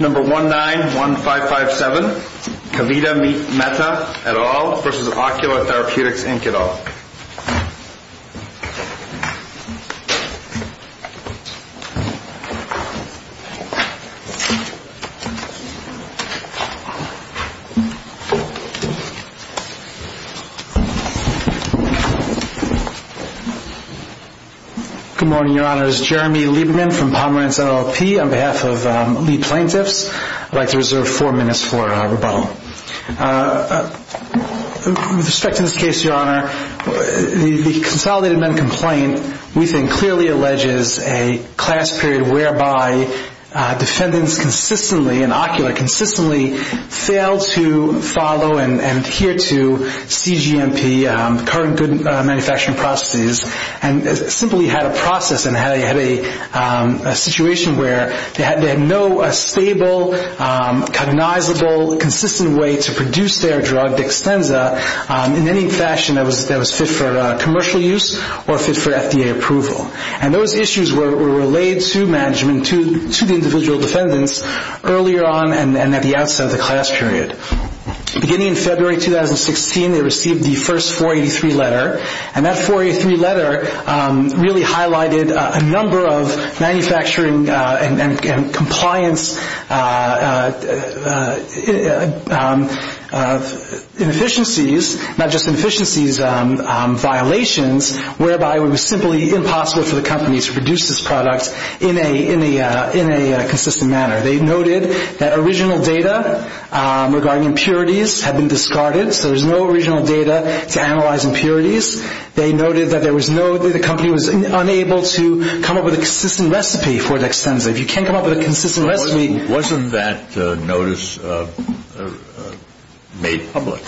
Number 1-9-1-5-5-7 Kavita Mehta et al. versus Ocular Therapeutix Inc et al. Good morning, Your Honor. This is Jeremy Lieberman from Pomerantz LLP on behalf of the plaintiffs. I'd like to reserve four minutes for rebuttal. With respect to this case, Your Honor, the Consolidated Men complaint, we think, clearly alleges a class period whereby defendants consistently, and Ocular consistently, failed to follow and adhere to CGMP, current good manufacturing processes, and simply had a process and had a situation where they had no stable, cognizable, consistent way to produce their drug, Dextenza, in any fashion that was fit for commercial use or fit for FDA approval. And those issues were relayed to management, to the individual defendants, earlier on and at the outset of the class period. Beginning in February 2016, they received the first 483 letter, and that 483 letter really highlighted a number of manufacturing and compliance inefficiencies, not just inefficiencies, violations, whereby it was simply impossible for the company to produce this product in a consistent manner. They noted that original data regarding impurities had been discarded, so there was no original data to analyze impurities. They noted that the company was unable to come up with a consistent recipe for Dextenza. If you can't come up with a consistent recipe… Wasn't that notice made public?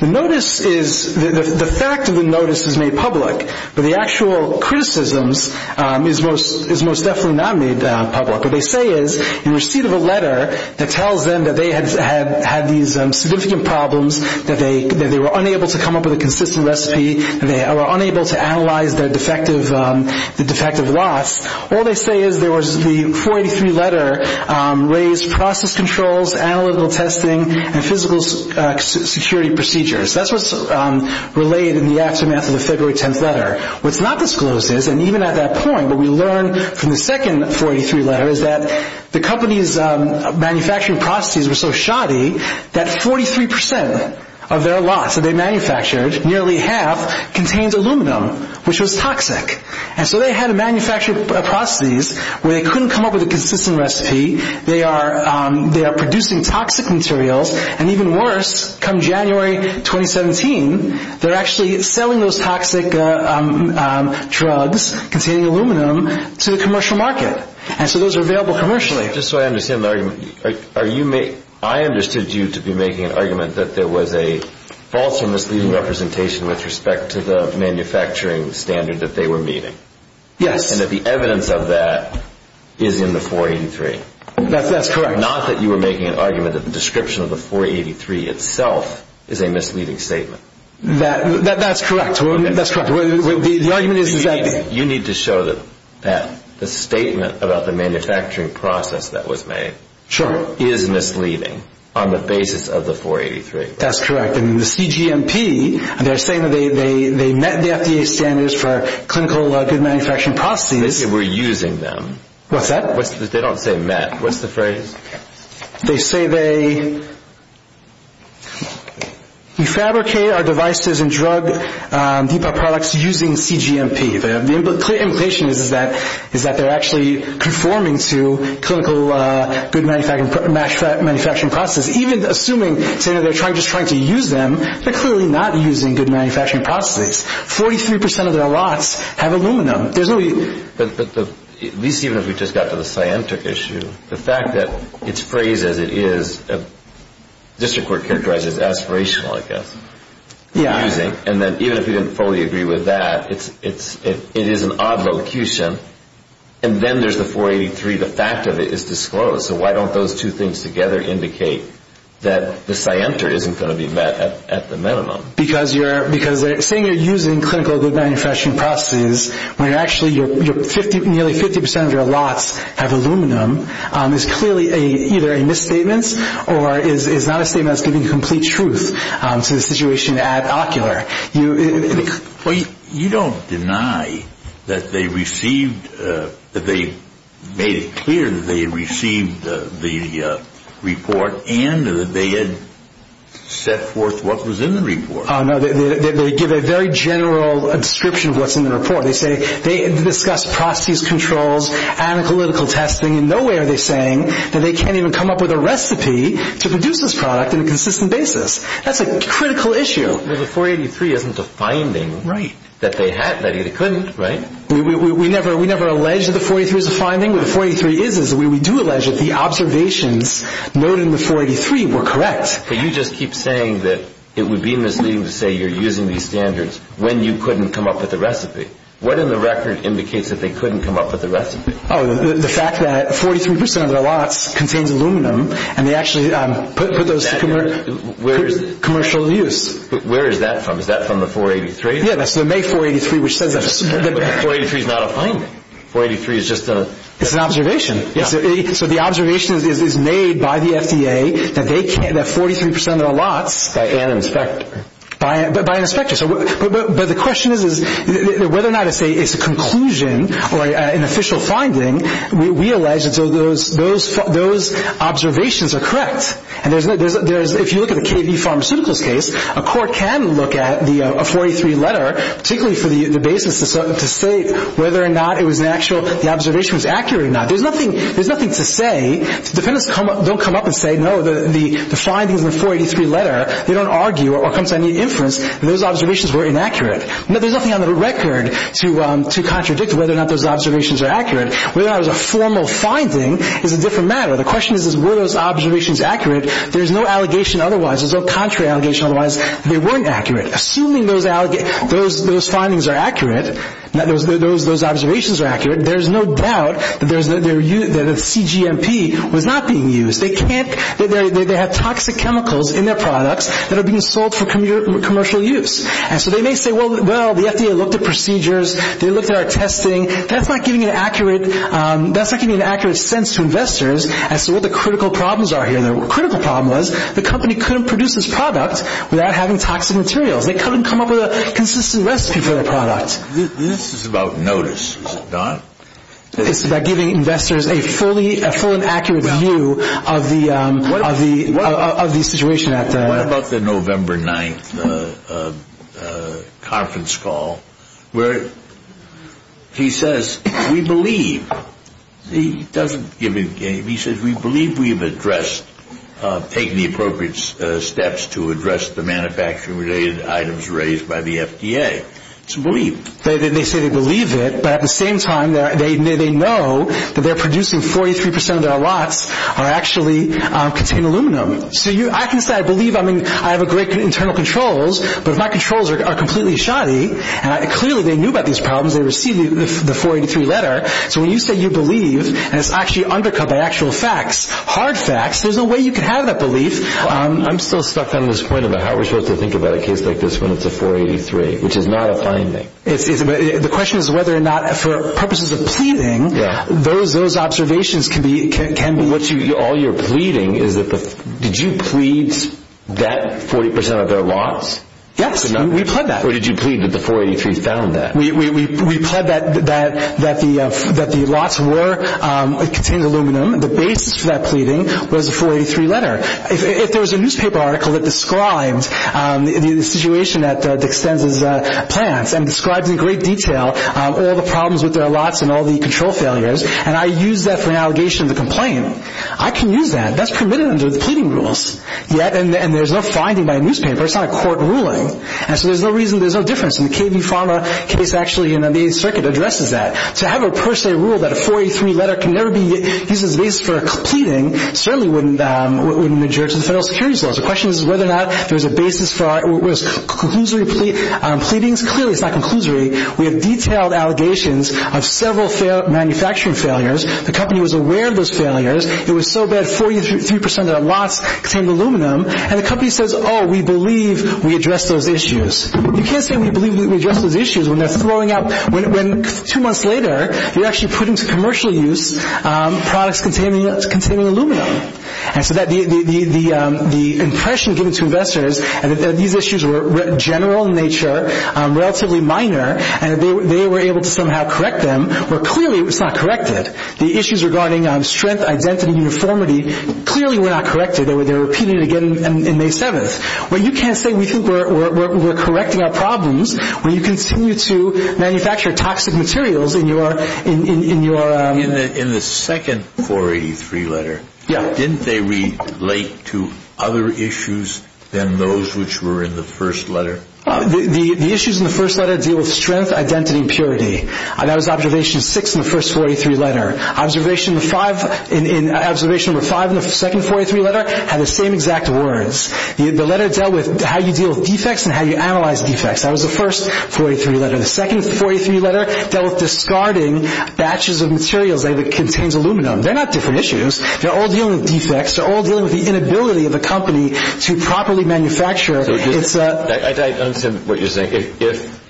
The notice is…the fact of the notice is made public, but the actual criticisms is most definitely not made public. What they say is, in receipt of a letter that tells them that they had these significant problems, that they were unable to come up with a consistent recipe, that they were unable to analyze the defective lots, all they say is there was the 483 letter raised process controls, analytical testing, and physical security procedures. That's what's relayed in the aftermath of the February 10th letter. What's not disclosed is, and even at that point, what we learn from the second 483 letter is that the company's manufacturing processes were so shoddy that 43% of their lots that they manufactured, nearly half, contained aluminum, which was toxic. And so they had to manufacture processes where they couldn't come up with a consistent recipe, they are producing toxic materials, and even worse, come January 2017, they're actually selling those toxic drugs containing aluminum to the commercial market. And so those are available commercially. Just so I understand the argument, I understood you to be making an argument that there was a false or misleading representation with respect to the manufacturing standard that they were meeting. Yes. And that the evidence of that is in the 483. That's correct. Not that you were making an argument that the description of the 483 itself is a misleading statement. That's correct. You need to show that the statement about the manufacturing process that was made is misleading on the basis of the 483. That's correct. And the CGMP, they're saying that they met the FDA standards for clinical good manufacturing processes. They said they were using them. What's that? They don't say met. What's the phrase? They say they refabricate our devices and drug products using CGMP. The implication is that they're actually conforming to clinical good manufacturing processes, even assuming they're just trying to use them. They're clearly not using good manufacturing processes. Forty-three percent of their lots have aluminum. But at least even if we just got to the scientific issue, the fact that it's phrased as it is, the district court characterized it as aspirational, I guess. Yeah. And then even if we didn't fully agree with that, it is an odd vocation. And then there's the 483. The fact of it is disclosed. So why don't those two things together indicate that the scienter isn't going to be met at the minimum? Because saying you're using clinical good manufacturing processes when actually nearly 50 percent of your lots have aluminum is clearly either a misstatement or is not a statement that's giving complete truth to the situation at Ocular. Well, you don't deny that they made it clear that they received the report and that they had set forth what was in the report. No. They give a very general description of what's in the report. They say they discussed processes, controls, analytical testing. In no way are they saying that they can't even come up with a recipe to produce this product in a consistent basis. That's a critical issue. Well, the 483 isn't a finding that they had that either couldn't, right? We never allege that the 483 is a finding. What the 483 is is we do allege that the observations noted in the 483 were correct. But you just keep saying that it would be misleading to say you're using these standards when you couldn't come up with a recipe. What in the record indicates that they couldn't come up with a recipe? Oh, the fact that 43 percent of their lots contains aluminum and they actually put those to commercial use. Where is that from? Is that from the 483? Yeah, that's the May 483, which says that. But the 483 is not a finding. 483 is just an observation. It's an observation. So the observation is made by the FDA that 43 percent of their lots By an inspector. By an inspector. But the question is whether or not it's a conclusion or an official finding. We allege that those observations are correct. If you look at the KB Pharmaceuticals case, a court can look at a 483 letter, particularly for the basis to say whether or not the observation was accurate or not. There's nothing to say. Defendants don't come up and say, no, the findings in the 483 letter, they don't argue or come to any inference that those observations were inaccurate. There's nothing on the record to contradict whether or not those observations are accurate. Whether or not it was a formal finding is a different matter. The question is, were those observations accurate? There's no allegation otherwise. There's no contrary allegation otherwise that they weren't accurate. Assuming those findings are accurate, those observations are accurate, there's no doubt that the CGMP was not being used. They have toxic chemicals in their products that are being sold for commercial use. And so they may say, well, the FDA looked at procedures. They looked at our testing. That's not giving an accurate sense to investors as to what the critical problems are here. The critical problem was the company couldn't produce this product without having toxic materials. They couldn't come up with a consistent recipe for the product. This is about notice, is it not? It's about giving investors a full and accurate view of the situation. What about the November 9th conference call where he says, we believe. He doesn't give a game. He says, we believe we've addressed, taken the appropriate steps to address the manufacturing-related items raised by the FDA. It's a belief. They say they believe it, but at the same time they know that they're producing 43% of their lots are actually contained aluminum. So I can say I believe. I mean, I have great internal controls, but my controls are completely shoddy. And clearly they knew about these problems. They received the 483 letter. So when you say you believe, and it's actually undercut by actual facts, hard facts, there's no way you can have that belief. I'm still stuck on this point about how we're supposed to think about a case like this when it's a 483, which is not a finding. The question is whether or not, for purposes of pleading, those observations can be. So all you're pleading, did you plead that 40% of their lots? Yes, we pled that. Or did you plead that the 483 found that? We pled that the lots were contained aluminum. The basis for that pleading was the 483 letter. If there was a newspaper article that described the situation at Dick Stenz's plants and described in great detail all the problems with their lots and all the control failures, and I used that for an allegation of a complaint, I can use that. That's permitted under the pleading rules. And there's no finding by a newspaper. It's not a court ruling. And so there's no reason, there's no difference. And the KV Pharma case actually in the 8th Circuit addresses that. To have a per se rule that a 483 letter can never be used as a basis for pleading certainly wouldn't adjure to the federal securities laws. The question is whether or not there's a basis for our, what is it, conclusory pleadings? Clearly it's not conclusory. We have detailed allegations of several manufacturing failures. The company was aware of those failures. It was so bad, 43% of their lots contained aluminum. And the company says, oh, we believe we addressed those issues. You can't say we believe we addressed those issues when they're flowing out, when two months later you're actually putting to commercial use products containing aluminum. And so the impression given to investors that these issues were general in nature, relatively minor, and they were able to somehow correct them, where clearly it was not corrected. The issues regarding strength, identity, uniformity, clearly were not corrected. They were repeated again on May 7th. But you can't say we think we're correcting our problems when you continue to manufacture toxic materials in your... In the second 483 letter, didn't they relate to other issues than those which were in the first letter? The issues in the first letter deal with strength, identity, and purity. That was observation 6 in the first 483 letter. Observation number 5 in the second 483 letter had the same exact words. The letter dealt with how you deal with defects and how you analyze defects. That was the first 483 letter. The second 483 letter dealt with discarding batches of materials that contained aluminum. They're not different issues. They're all dealing with defects. They're all dealing with the inability of the company to properly manufacture... I don't understand what you're saying. If...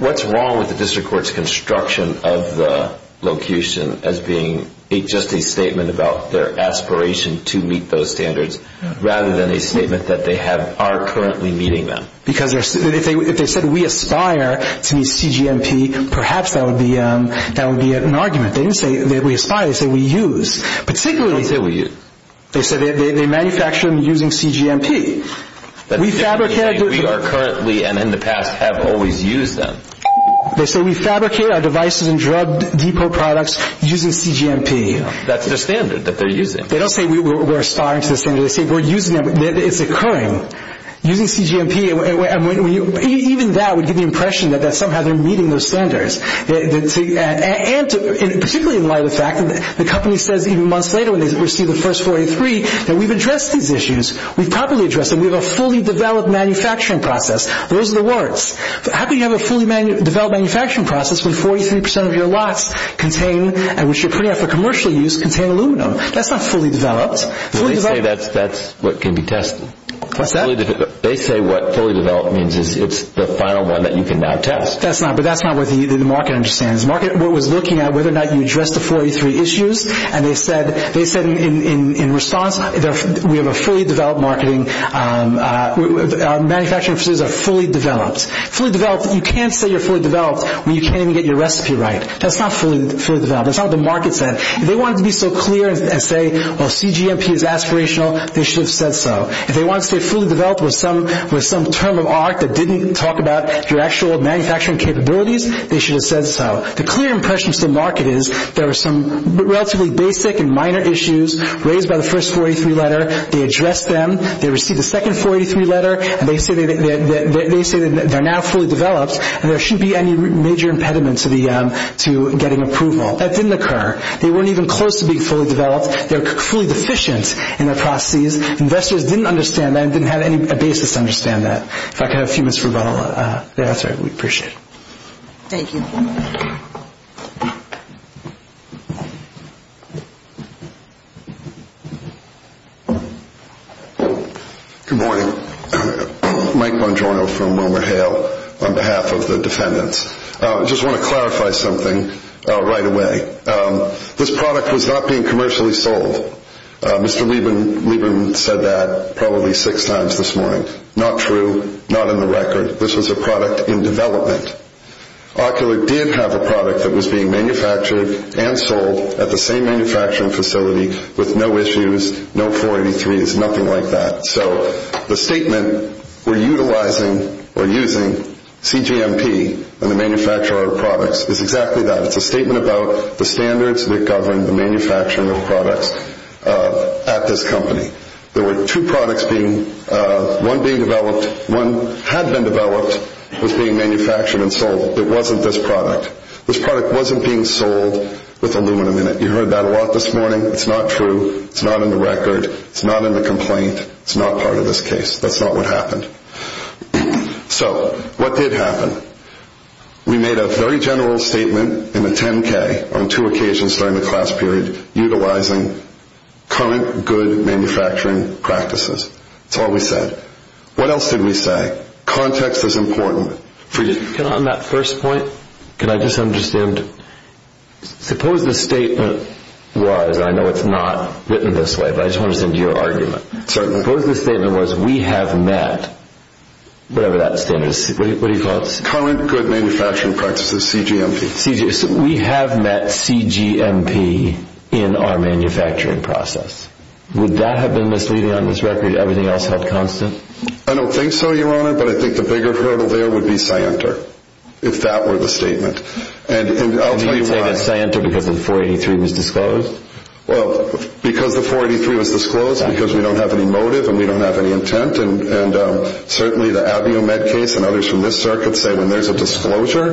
What's wrong with the district court's construction of the locution as being just a statement about their aspiration to meet those standards rather than a statement that they are currently meeting them? Because if they said we aspire to meet CGMP, perhaps that would be an argument. They didn't say we aspire. They said we use. Particularly... They didn't say we use. They said they manufacture them using CGMP. We fabricate... They didn't say we are currently and in the past have always used them. They said we fabricate our devices and drug depot products using CGMP. That's their standard that they're using. They don't say we're aspiring to the standard. They say we're using them. It's occurring. Using CGMP... Even that would give the impression that somehow they're meeting those standards. And particularly in light of the fact that the company says even months later when they receive the first 483 that we've addressed these issues. We've properly addressed them. We have a fully developed manufacturing process. Those are the words. How can you have a fully developed manufacturing process when 43% of your lots contain, which you're pretty much for commercial use, contain aluminum? That's not fully developed. They say that's what can be tested. What's that? They say what fully developed means is it's the final one that you can now test. That's not what the market understands. The market was looking at whether or not you addressed the 43 issues, and they said in response we have a fully developed marketing... Manufacturing facilities are fully developed. Fully developed. You can't say you're fully developed when you can't even get your recipe right. That's not fully developed. That's not what the market said. If they wanted to be so clear and say, well, CGMP is aspirational, they should have said so. If they wanted to say fully developed was some term of art that didn't talk about your actual manufacturing capabilities, they should have said so. The clear impression to the market is there were some relatively basic and minor issues raised by the first 43 letter. They addressed them. They received the second 43 letter, and they say they're now fully developed, and there shouldn't be any major impediment to getting approval. That didn't occur. They weren't even close to being fully developed. They were fully deficient in their processes. Investors didn't understand that and didn't have any basis to understand that. If I could have a few minutes for rebuttal. That's all right. We appreciate it. Thank you. Good morning. Mike Bongiorno from WilmerHale on behalf of the defendants. I just want to clarify something right away. This product was not being commercially sold. Mr. Lieben said that probably six times this morning. Not true. Not in the record. This was a product in development. Ocular did have a product that was being manufactured and sold at the same manufacturing facility with no issues, no 483s, nothing like that. So the statement, we're utilizing or using CGMP when we manufacture our products is exactly that. It's a statement about the standards that govern the manufacturing of products at this company. There were two products being, one being developed. One had been developed, was being manufactured and sold. It wasn't this product. This product wasn't being sold with aluminum in it. You heard that a lot this morning. It's not true. It's not in the record. It's not in the complaint. It's not part of this case. That's not what happened. So what did happen? We made a very general statement in the 10-K on two occasions during the class period, utilizing current good manufacturing practices. That's all we said. What else did we say? Context is important. Can I, on that first point, can I just understand? Suppose the statement was, and I know it's not written this way, but I just want to listen to your argument. Suppose the statement was we have met whatever that standard is. What do you call it? Current good manufacturing practices, CGMP. We have met CGMP in our manufacturing process. Would that have been misleading on this record? Everything else held constant? I don't think so, Your Honor, but I think the bigger hurdle there would be Scienter, if that were the statement. And I'll tell you why. Do you think it's Scienter because the 483 was disclosed? Well, because the 483 was disclosed, because we don't have any motive and we don't have any intent. And certainly the AbbioMed case and others from this circuit say when there's a disclosure,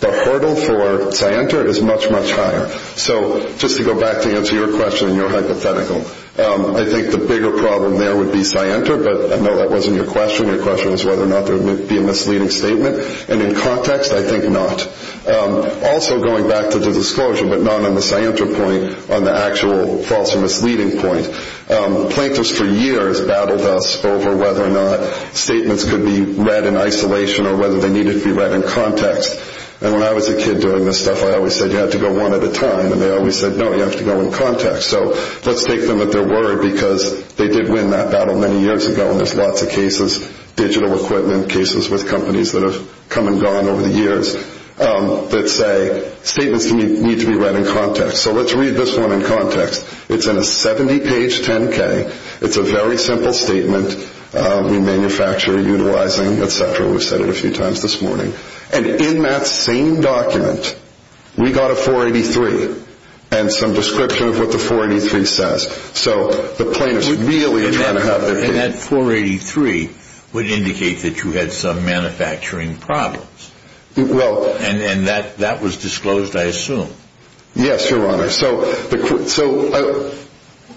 the hurdle for Scienter is much, much higher. So just to go back to answer your question and your hypothetical, I think the bigger problem there would be Scienter, but I know that wasn't your question. Your question was whether or not there would be a misleading statement. And in context, I think not. Also going back to the disclosure, but not on the Scienter point, on the actual false or misleading point, plaintiffs for years battled us over whether or not statements could be read in isolation or whether they needed to be read in context. And when I was a kid doing this stuff, I always said you have to go one at a time, and they always said, no, you have to go in context. So let's take them at their word, because they did win that battle many years ago, and there's lots of cases, digital equipment cases with companies that have come and gone over the years, that say statements need to be read in context. So let's read this one in context. It's in a 70-page 10-K. It's a very simple statement. We manufacture, utilizing, et cetera. We've said it a few times this morning. And in that same document, we got a 483 and some description of what the 483 says. So the plaintiffs really are trying to have their case. And that 483 would indicate that you had some manufacturing problems. And that was disclosed, I assume. Yes, Your Honor. So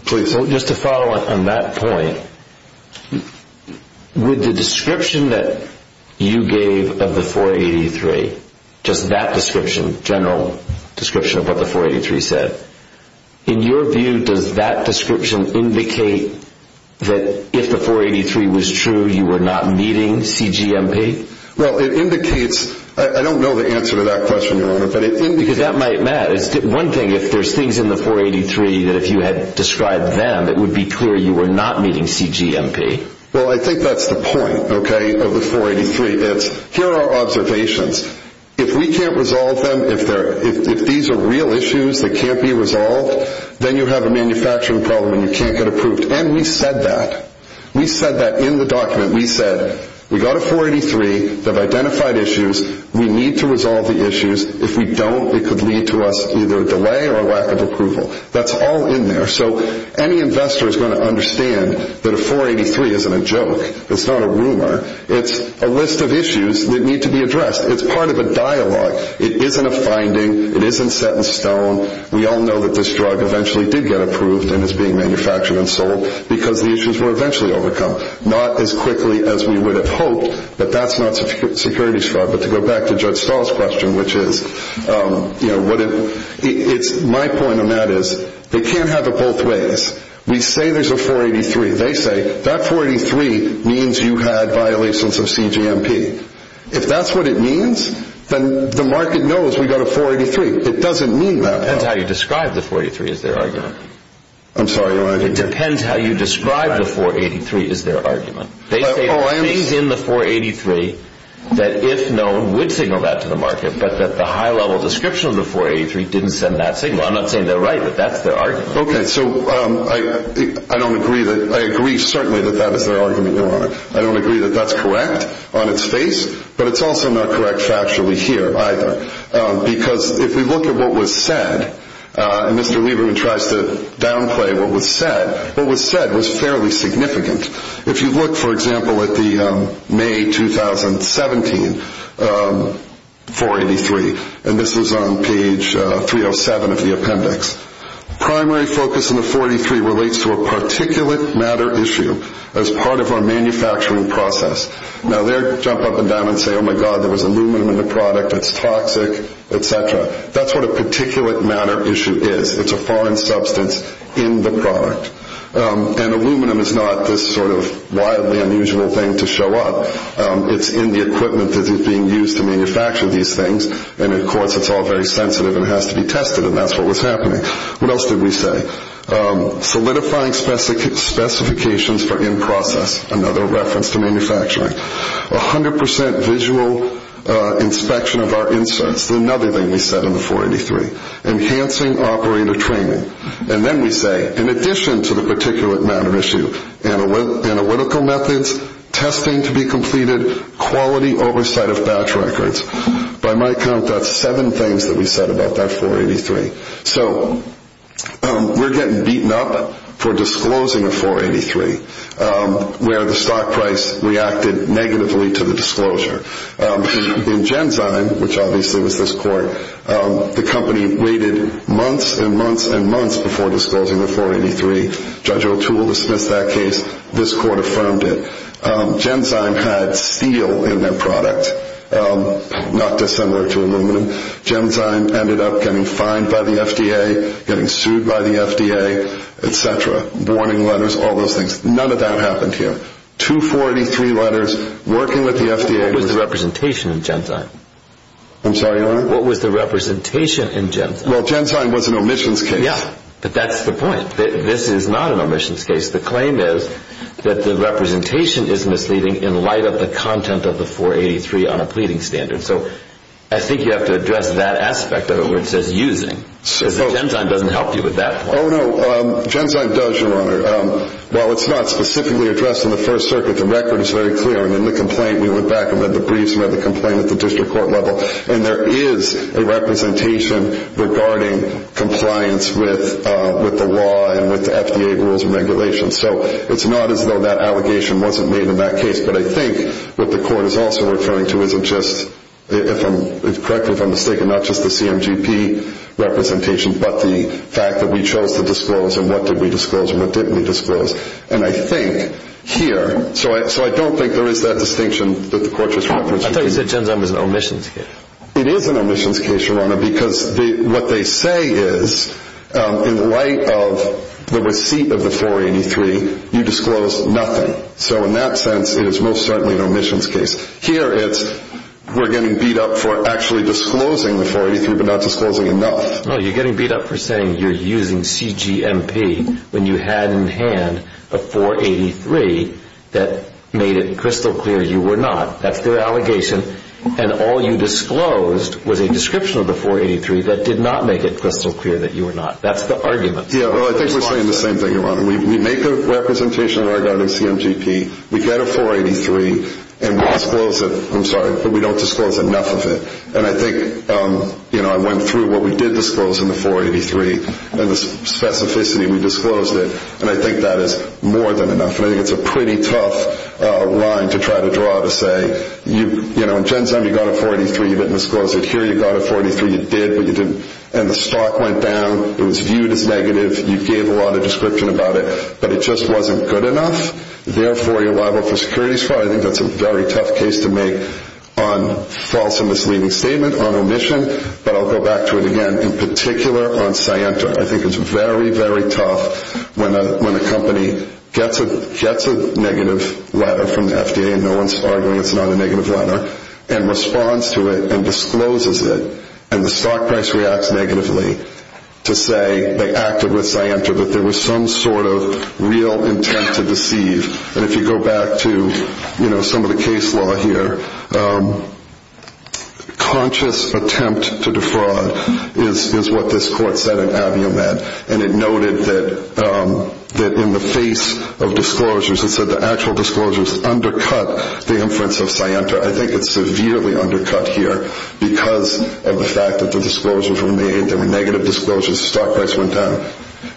please. Just to follow on that point, with the description that you gave of the 483, just that description, general description of what the 483 said, in your view, does that description indicate that if the 483 was true, you were not meeting CGMP? Well, it indicates. I don't know the answer to that question, Your Honor. Because that might matter. One thing, if there's things in the 483 that if you had described them, it would be clear you were not meeting CGMP. Well, I think that's the point, okay, of the 483. It's here are our observations. If we can't resolve them, if these are real issues that can't be resolved, then you have a manufacturing problem and you can't get approved. And we said that. We said that in the document. We said we got a 483. They've identified issues. We need to resolve the issues. If we don't, it could lead to us either delay or a lack of approval. That's all in there. So any investor is going to understand that a 483 isn't a joke. It's not a rumor. It's a list of issues that need to be addressed. It's part of a dialogue. It isn't a finding. It isn't set in stone. We all know that this drug eventually did get approved and is being manufactured and sold because the issues were eventually overcome, not as quickly as we would have hoped. But that's not security's fault. But to go back to Judge Stahl's question, which is my point on that is they can't have it both ways. We say there's a 483. They say that 483 means you had violations of CGMP. If that's what it means, then the market knows we got a 483. It doesn't mean that. It depends how you describe the 483 is their argument. I'm sorry. It depends how you describe the 483 is their argument. They say there are things in the 483 that, if known, would signal that to the market, but that the high-level description of the 483 didn't send that signal. I'm not saying they're right, but that's their argument. Okay. So I agree, certainly, that that is their argument. I don't agree that that's correct on its face, but it's also not correct factually here either. Because if we look at what was said, and Mr. Lieberman tries to downplay what was said, what was said was fairly significant. If you look, for example, at the May 2017 483, and this is on page 307 of the appendix, primary focus in the 483 relates to a particulate matter issue as part of our manufacturing process. Now, they'll jump up and down and say, oh, my God, there was aluminum in the product. It's toxic, et cetera. That's what a particulate matter issue is. It's a foreign substance in the product. And aluminum is not this sort of wildly unusual thing to show up. It's in the equipment that is being used to manufacture these things, and, of course, it's all very sensitive and has to be tested, and that's what was happening. What else did we say? Solidifying specifications for in-process, another reference to manufacturing. 100% visual inspection of our inserts, another thing we said in the 483. Enhancing operator training. And then we say, in addition to the particulate matter issue, analytical methods, testing to be completed, quality oversight of batch records. By my count, that's seven things that we said about that 483. So we're getting beaten up for disclosing a 483 where the stock price reacted negatively to the disclosure. In Genzyme, which obviously was this court, the company waited months and months and months before disclosing the 483. Judge O'Toole dismissed that case. This court affirmed it. Genzyme had steel in their product, not dissimilar to aluminum. Genzyme ended up getting fined by the FDA, getting sued by the FDA, et cetera. Warning letters, all those things. None of that happened here. 243 letters, working with the FDA. What was the representation in Genzyme? I'm sorry, Your Honor? What was the representation in Genzyme? Well, Genzyme was an omissions case. Yeah, but that's the point. This is not an omissions case. The claim is that the representation is misleading in light of the content of the 483 on a pleading standard. So I think you have to address that aspect of it where it says using, because Genzyme doesn't help you with that point. Oh, no. Genzyme does, Your Honor. Well, it's not specifically addressed in the First Circuit. The record is very clear. In the complaint, we went back and read the briefs and read the complaint at the district court level, and there is a representation regarding compliance with the law and with the FDA rules and regulations. So it's not as though that allegation wasn't made in that case, but I think what the court is also referring to isn't just, correct me if I'm mistaken, not just the CMGP representation but the fact that we chose to disclose and what did we disclose and I think here, so I don't think there is that distinction that the court was referring to. I thought you said Genzyme was an omissions case. It is an omissions case, Your Honor, because what they say is in light of the receipt of the 483, you disclose nothing. So in that sense, it is most certainly an omissions case. Here it's we're getting beat up for actually disclosing the 483 but not disclosing enough. No, you're getting beat up for saying you're using CGMP when you had in hand a 483 that made it crystal clear you were not. That's their allegation. And all you disclosed was a description of the 483 that did not make it crystal clear that you were not. That's the argument. Yeah, well, I think we're saying the same thing, Your Honor. We make a representation in regard to CMGP. We get a 483 and we disclose it. I'm sorry, but we don't disclose enough of it. And I think, you know, I went through what we did disclose in the 483 and the specificity. We disclosed it, and I think that is more than enough. And I think it's a pretty tough line to try to draw to say, you know, in Genzyme you got a 483. You didn't disclose it here. You got a 483. You did, but you didn't. And the stock went down. It was viewed as negative. You gave a lot of description about it, but it just wasn't good enough. Therefore, you're liable for securities fraud. I think that's a very tough case to make on false and misleading statement, on omission. But I'll go back to it again. In particular, on Sienta, I think it's very, very tough when a company gets a negative letter from the FDA and no one's arguing it's not a negative letter and responds to it and discloses it and the stock price reacts negatively to say they acted with Sienta, that there was some sort of real intent to deceive. And if you go back to, you know, some of the case law here, conscious attempt to defraud is what this court said in AvioMed. And it noted that in the face of disclosures, it said the actual disclosures undercut the inference of Sienta. I think it's severely undercut here because of the fact that the disclosures were made. There were negative disclosures. The stock price went down.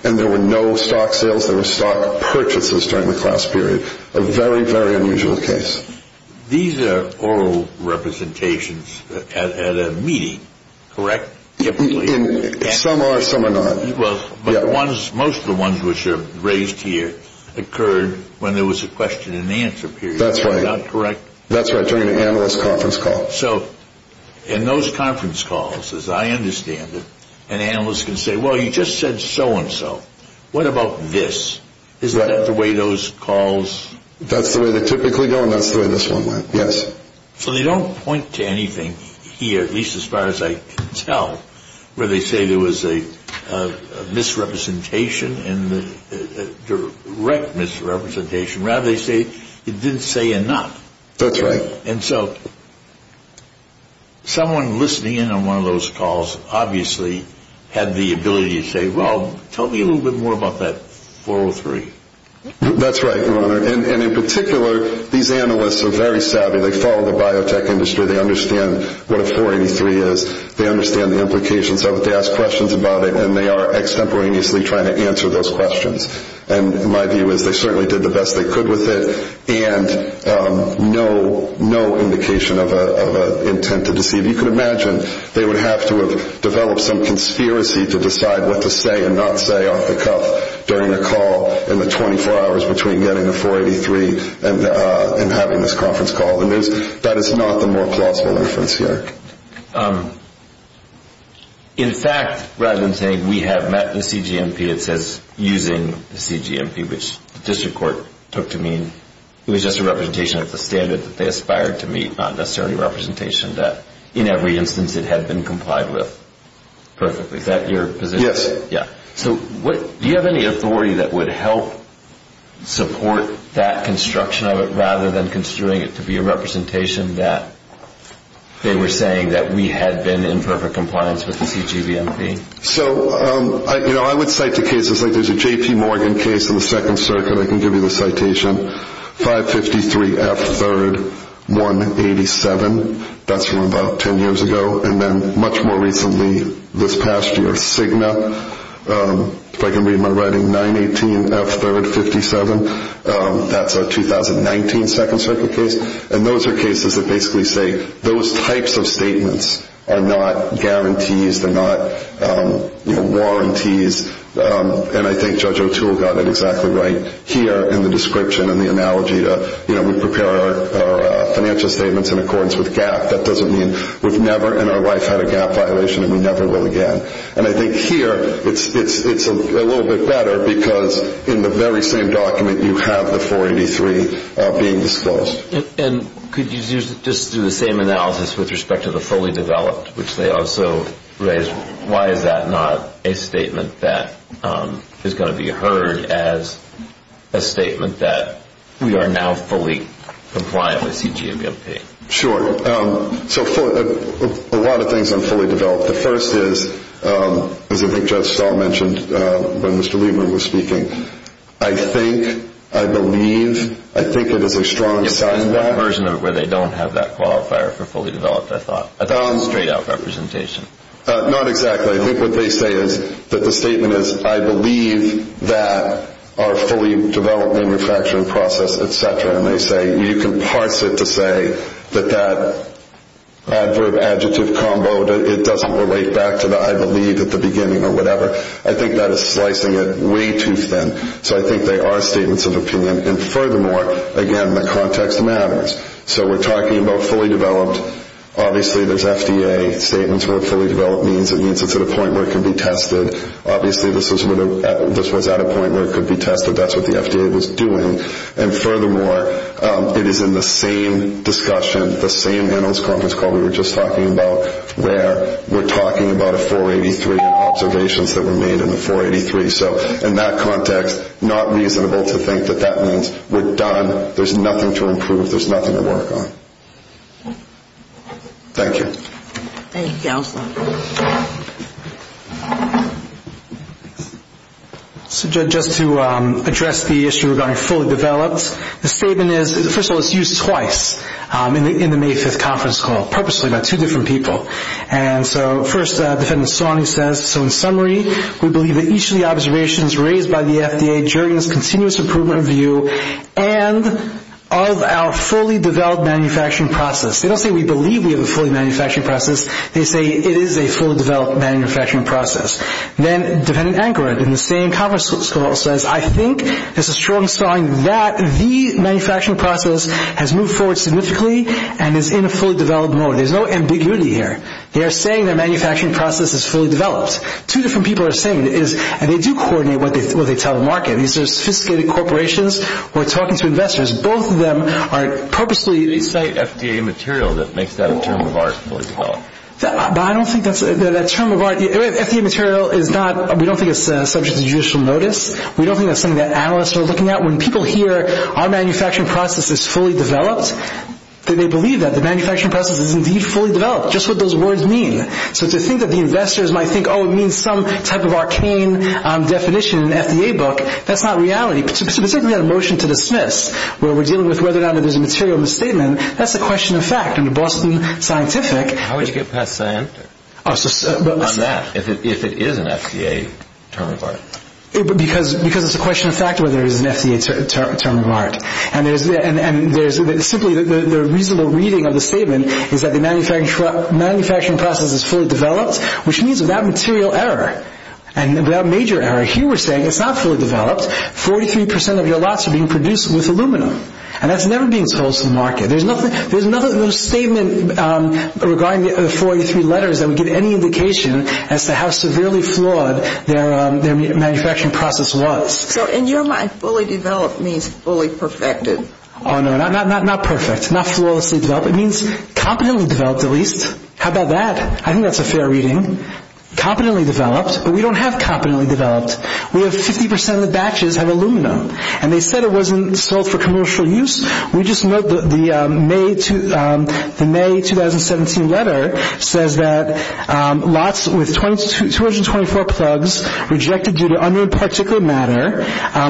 And there were no stock sales. There were stock purchases during the class period. A very, very unusual case. These are oral representations at a meeting, correct? Some are, some are not. Most of the ones which are raised here occurred when there was a question and answer period. That's right. Is that correct? That's right, during an analyst conference call. So in those conference calls, as I understand it, an analyst can say, well, you just said so-and-so. What about this? Is that the way those calls? That's the way they typically go, and that's the way this one went, yes. So they don't point to anything here, at least as far as I can tell, where they say there was a misrepresentation, a direct misrepresentation. Rather, they say it didn't say enough. That's right. And so someone listening in on one of those calls obviously had the ability to say, well, tell me a little bit more about that 403. That's right, Your Honor. And in particular, these analysts are very savvy. They follow the biotech industry. They understand what a 483 is. They understand the implications of it. They ask questions about it, and they are extemporaneously trying to answer those questions. And my view is they certainly did the best they could with it. And no indication of an intent to deceive. You can imagine they would have to have developed some conspiracy to decide what to say and not say off the cuff during a call in the 24 hours between getting a 483 and having this conference call. And that is not the more plausible inference here. In fact, rather than saying we have met the CGMP, it says using the CGMP, which the district court took to mean it was just a representation of the standard that they aspired to meet, not necessarily a representation that in every instance it had been complied with perfectly. Is that your position? Yes. Yeah. So do you have any authority that would help support that construction of it rather than considering it to be a representation that they were saying that we had been in perfect compliance with the CGMP? So, you know, I would cite the cases like there's a J.P. Morgan case in the Second Circuit. I can give you the citation. 553 F. 3rd, 187. That's from about 10 years ago. And then much more recently this past year, Cigna. If I can read my writing, 918 F. 3rd, 57. That's a 2019 Second Circuit case. And those are cases that basically say those types of statements are not guarantees. They're not warranties. And I think Judge O'Toole got it exactly right here in the description and the analogy to, you know, we prepare our financial statements in accordance with GAAP. That doesn't mean we've never in our life had a GAAP violation and we never will again. And I think here it's a little bit better because in the very same document you have the 483 being disclosed. And could you just do the same analysis with respect to the fully developed, which they also raised? Why is that not a statement that is going to be heard as a statement that we are now fully compliant with CGMP? Sure. So a lot of things on fully developed. The first is, as I think Judge Stahl mentioned when Mr. Liebman was speaking, I think, I believe, I think it is a strong sign that. There's one version of it where they don't have that qualifier for fully developed, I thought. I thought it was a straight out representation. Not exactly. I think what they say is that the statement is, I believe that our fully developed manufacturing process, et cetera. And they say you can parse it to say that that adverb-adjective combo, it doesn't relate back to the I believe at the beginning or whatever. I think that is slicing it way too thin. So I think they are statements of opinion. And furthermore, again, the context matters. So we're talking about fully developed. Obviously, there's FDA statements where fully developed means it's at a point where it can be tested. Obviously, this was at a point where it could be tested. That's what the FDA was doing. And furthermore, it is in the same discussion, the same annals conference call we were just talking about, where we're talking about a 483 and observations that were made in the 483. So in that context, not reasonable to think that that means we're done. There's nothing to improve. There's nothing to work on. Thank you. Thank you, Counselor. So just to address the issue regarding fully developed, the statement is, first of all, it's used twice in the May 5th conference call, purposely by two different people. And so first, Defendant Sawney says, They don't say we believe we have a fully manufactured process. They say it is a fully developed manufactured process. Then Defendant Anchor, in the same conference call, says, They are saying their manufacturing process is fully developed. Two different people are saying it is. And they do coordinate what they tell the market. These are sophisticated corporations. We're talking to investors. Both of them are purposely They cite FDA material that makes that a term of art, fully developed. But I don't think that's a term of art. FDA material is not, we don't think it's subject to judicial notice. We don't think that's something that analysts are looking at. When people hear our manufacturing process is fully developed, they believe that the manufacturing process is indeed fully developed. Just what those words mean. So to think that the investors might think, oh, it means some type of arcane definition in an FDA book, that's not reality. Particularly on a motion to dismiss, where we're dealing with whether or not there's a material misstatement, that's a question of fact. And the Boston Scientific How would you get past Scienter on that, if it is an FDA term of art? Because it's a question of fact whether it is an FDA term of art. And simply the reasonable reading of the statement is that the manufacturing process is fully developed, which means without material error, without major error, here we're saying it's not fully developed. Forty-three percent of your lots are being produced with aluminum. And that's never being sold to the market. There's no statement regarding the 43 letters that would give any indication as to how severely flawed their manufacturing process was. So in your mind, fully developed means fully perfected? Oh, no, not perfect. Not flawlessly developed. It means competently developed, at least. How about that? I think that's a fair reading. Competently developed. But we don't have competently developed. We have 50 percent of the batches have aluminum. And they said it wasn't sold for commercial use. We just note that the May 2017 letter says that lots with 224 plugs rejected due to unknown particular matter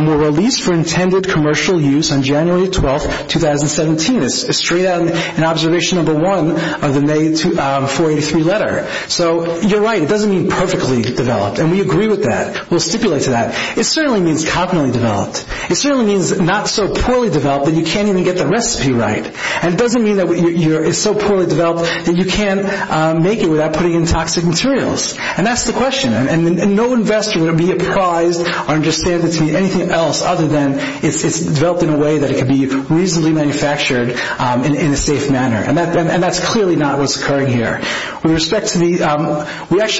were released for intended commercial use on January 12, 2017. It's straight out in observation number one of the May 43 letter. So you're right. It doesn't mean perfectly developed. And we agree with that. We'll stipulate to that. It certainly means competently developed. It certainly means not so poorly developed that you can't even get the recipe right. And it doesn't mean that it's so poorly developed that you can't make it without putting in toxic materials. And that's the question. And no investor would be apprised or understand it to mean anything else other than it's developed in a way that it can be reasonably manufactured in a safe manner. And that's clearly not what's occurring here.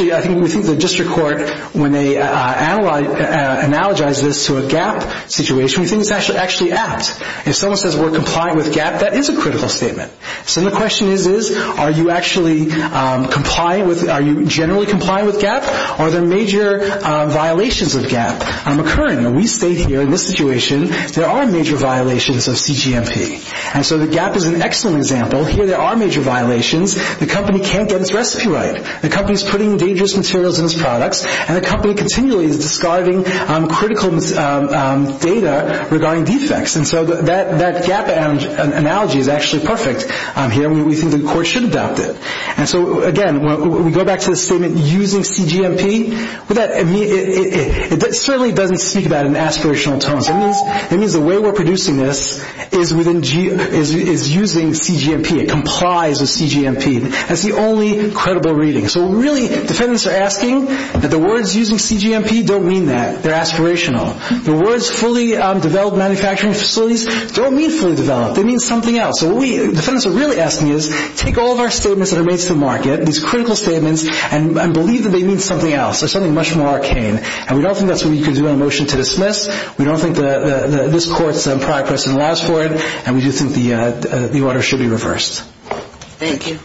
I think the district court, when they analogize this to a GAP situation, we think it's actually apt. If someone says we're complying with GAP, that is a critical statement. So the question is, are you actually generally complying with GAP? Are there major violations of GAP occurring? And we state here in this situation there are major violations of CGMP. And so the GAP is an excellent example. Here there are major violations. The company can't get its recipe right. The company is putting dangerous materials in its products. And the company continually is describing critical data regarding defects. And so that GAP analogy is actually perfect here. We think the court should adopt it. And so, again, we go back to the statement using CGMP. It certainly doesn't speak about an aspirational tone. It means the way we're producing this is using CGMP. It complies with CGMP. That's the only credible reading. So really defendants are asking that the words using CGMP don't mean that. They're aspirational. The words fully developed manufacturing facilities don't mean fully developed. They mean something else. So what defendants are really asking is, take all of our statements that are made to the market, these critical statements, and believe that they mean something else or something much more arcane. And we don't think that's what we can do on a motion to dismiss. We don't think this court's progress allows for it. And we do think the order should be reversed. Thank you.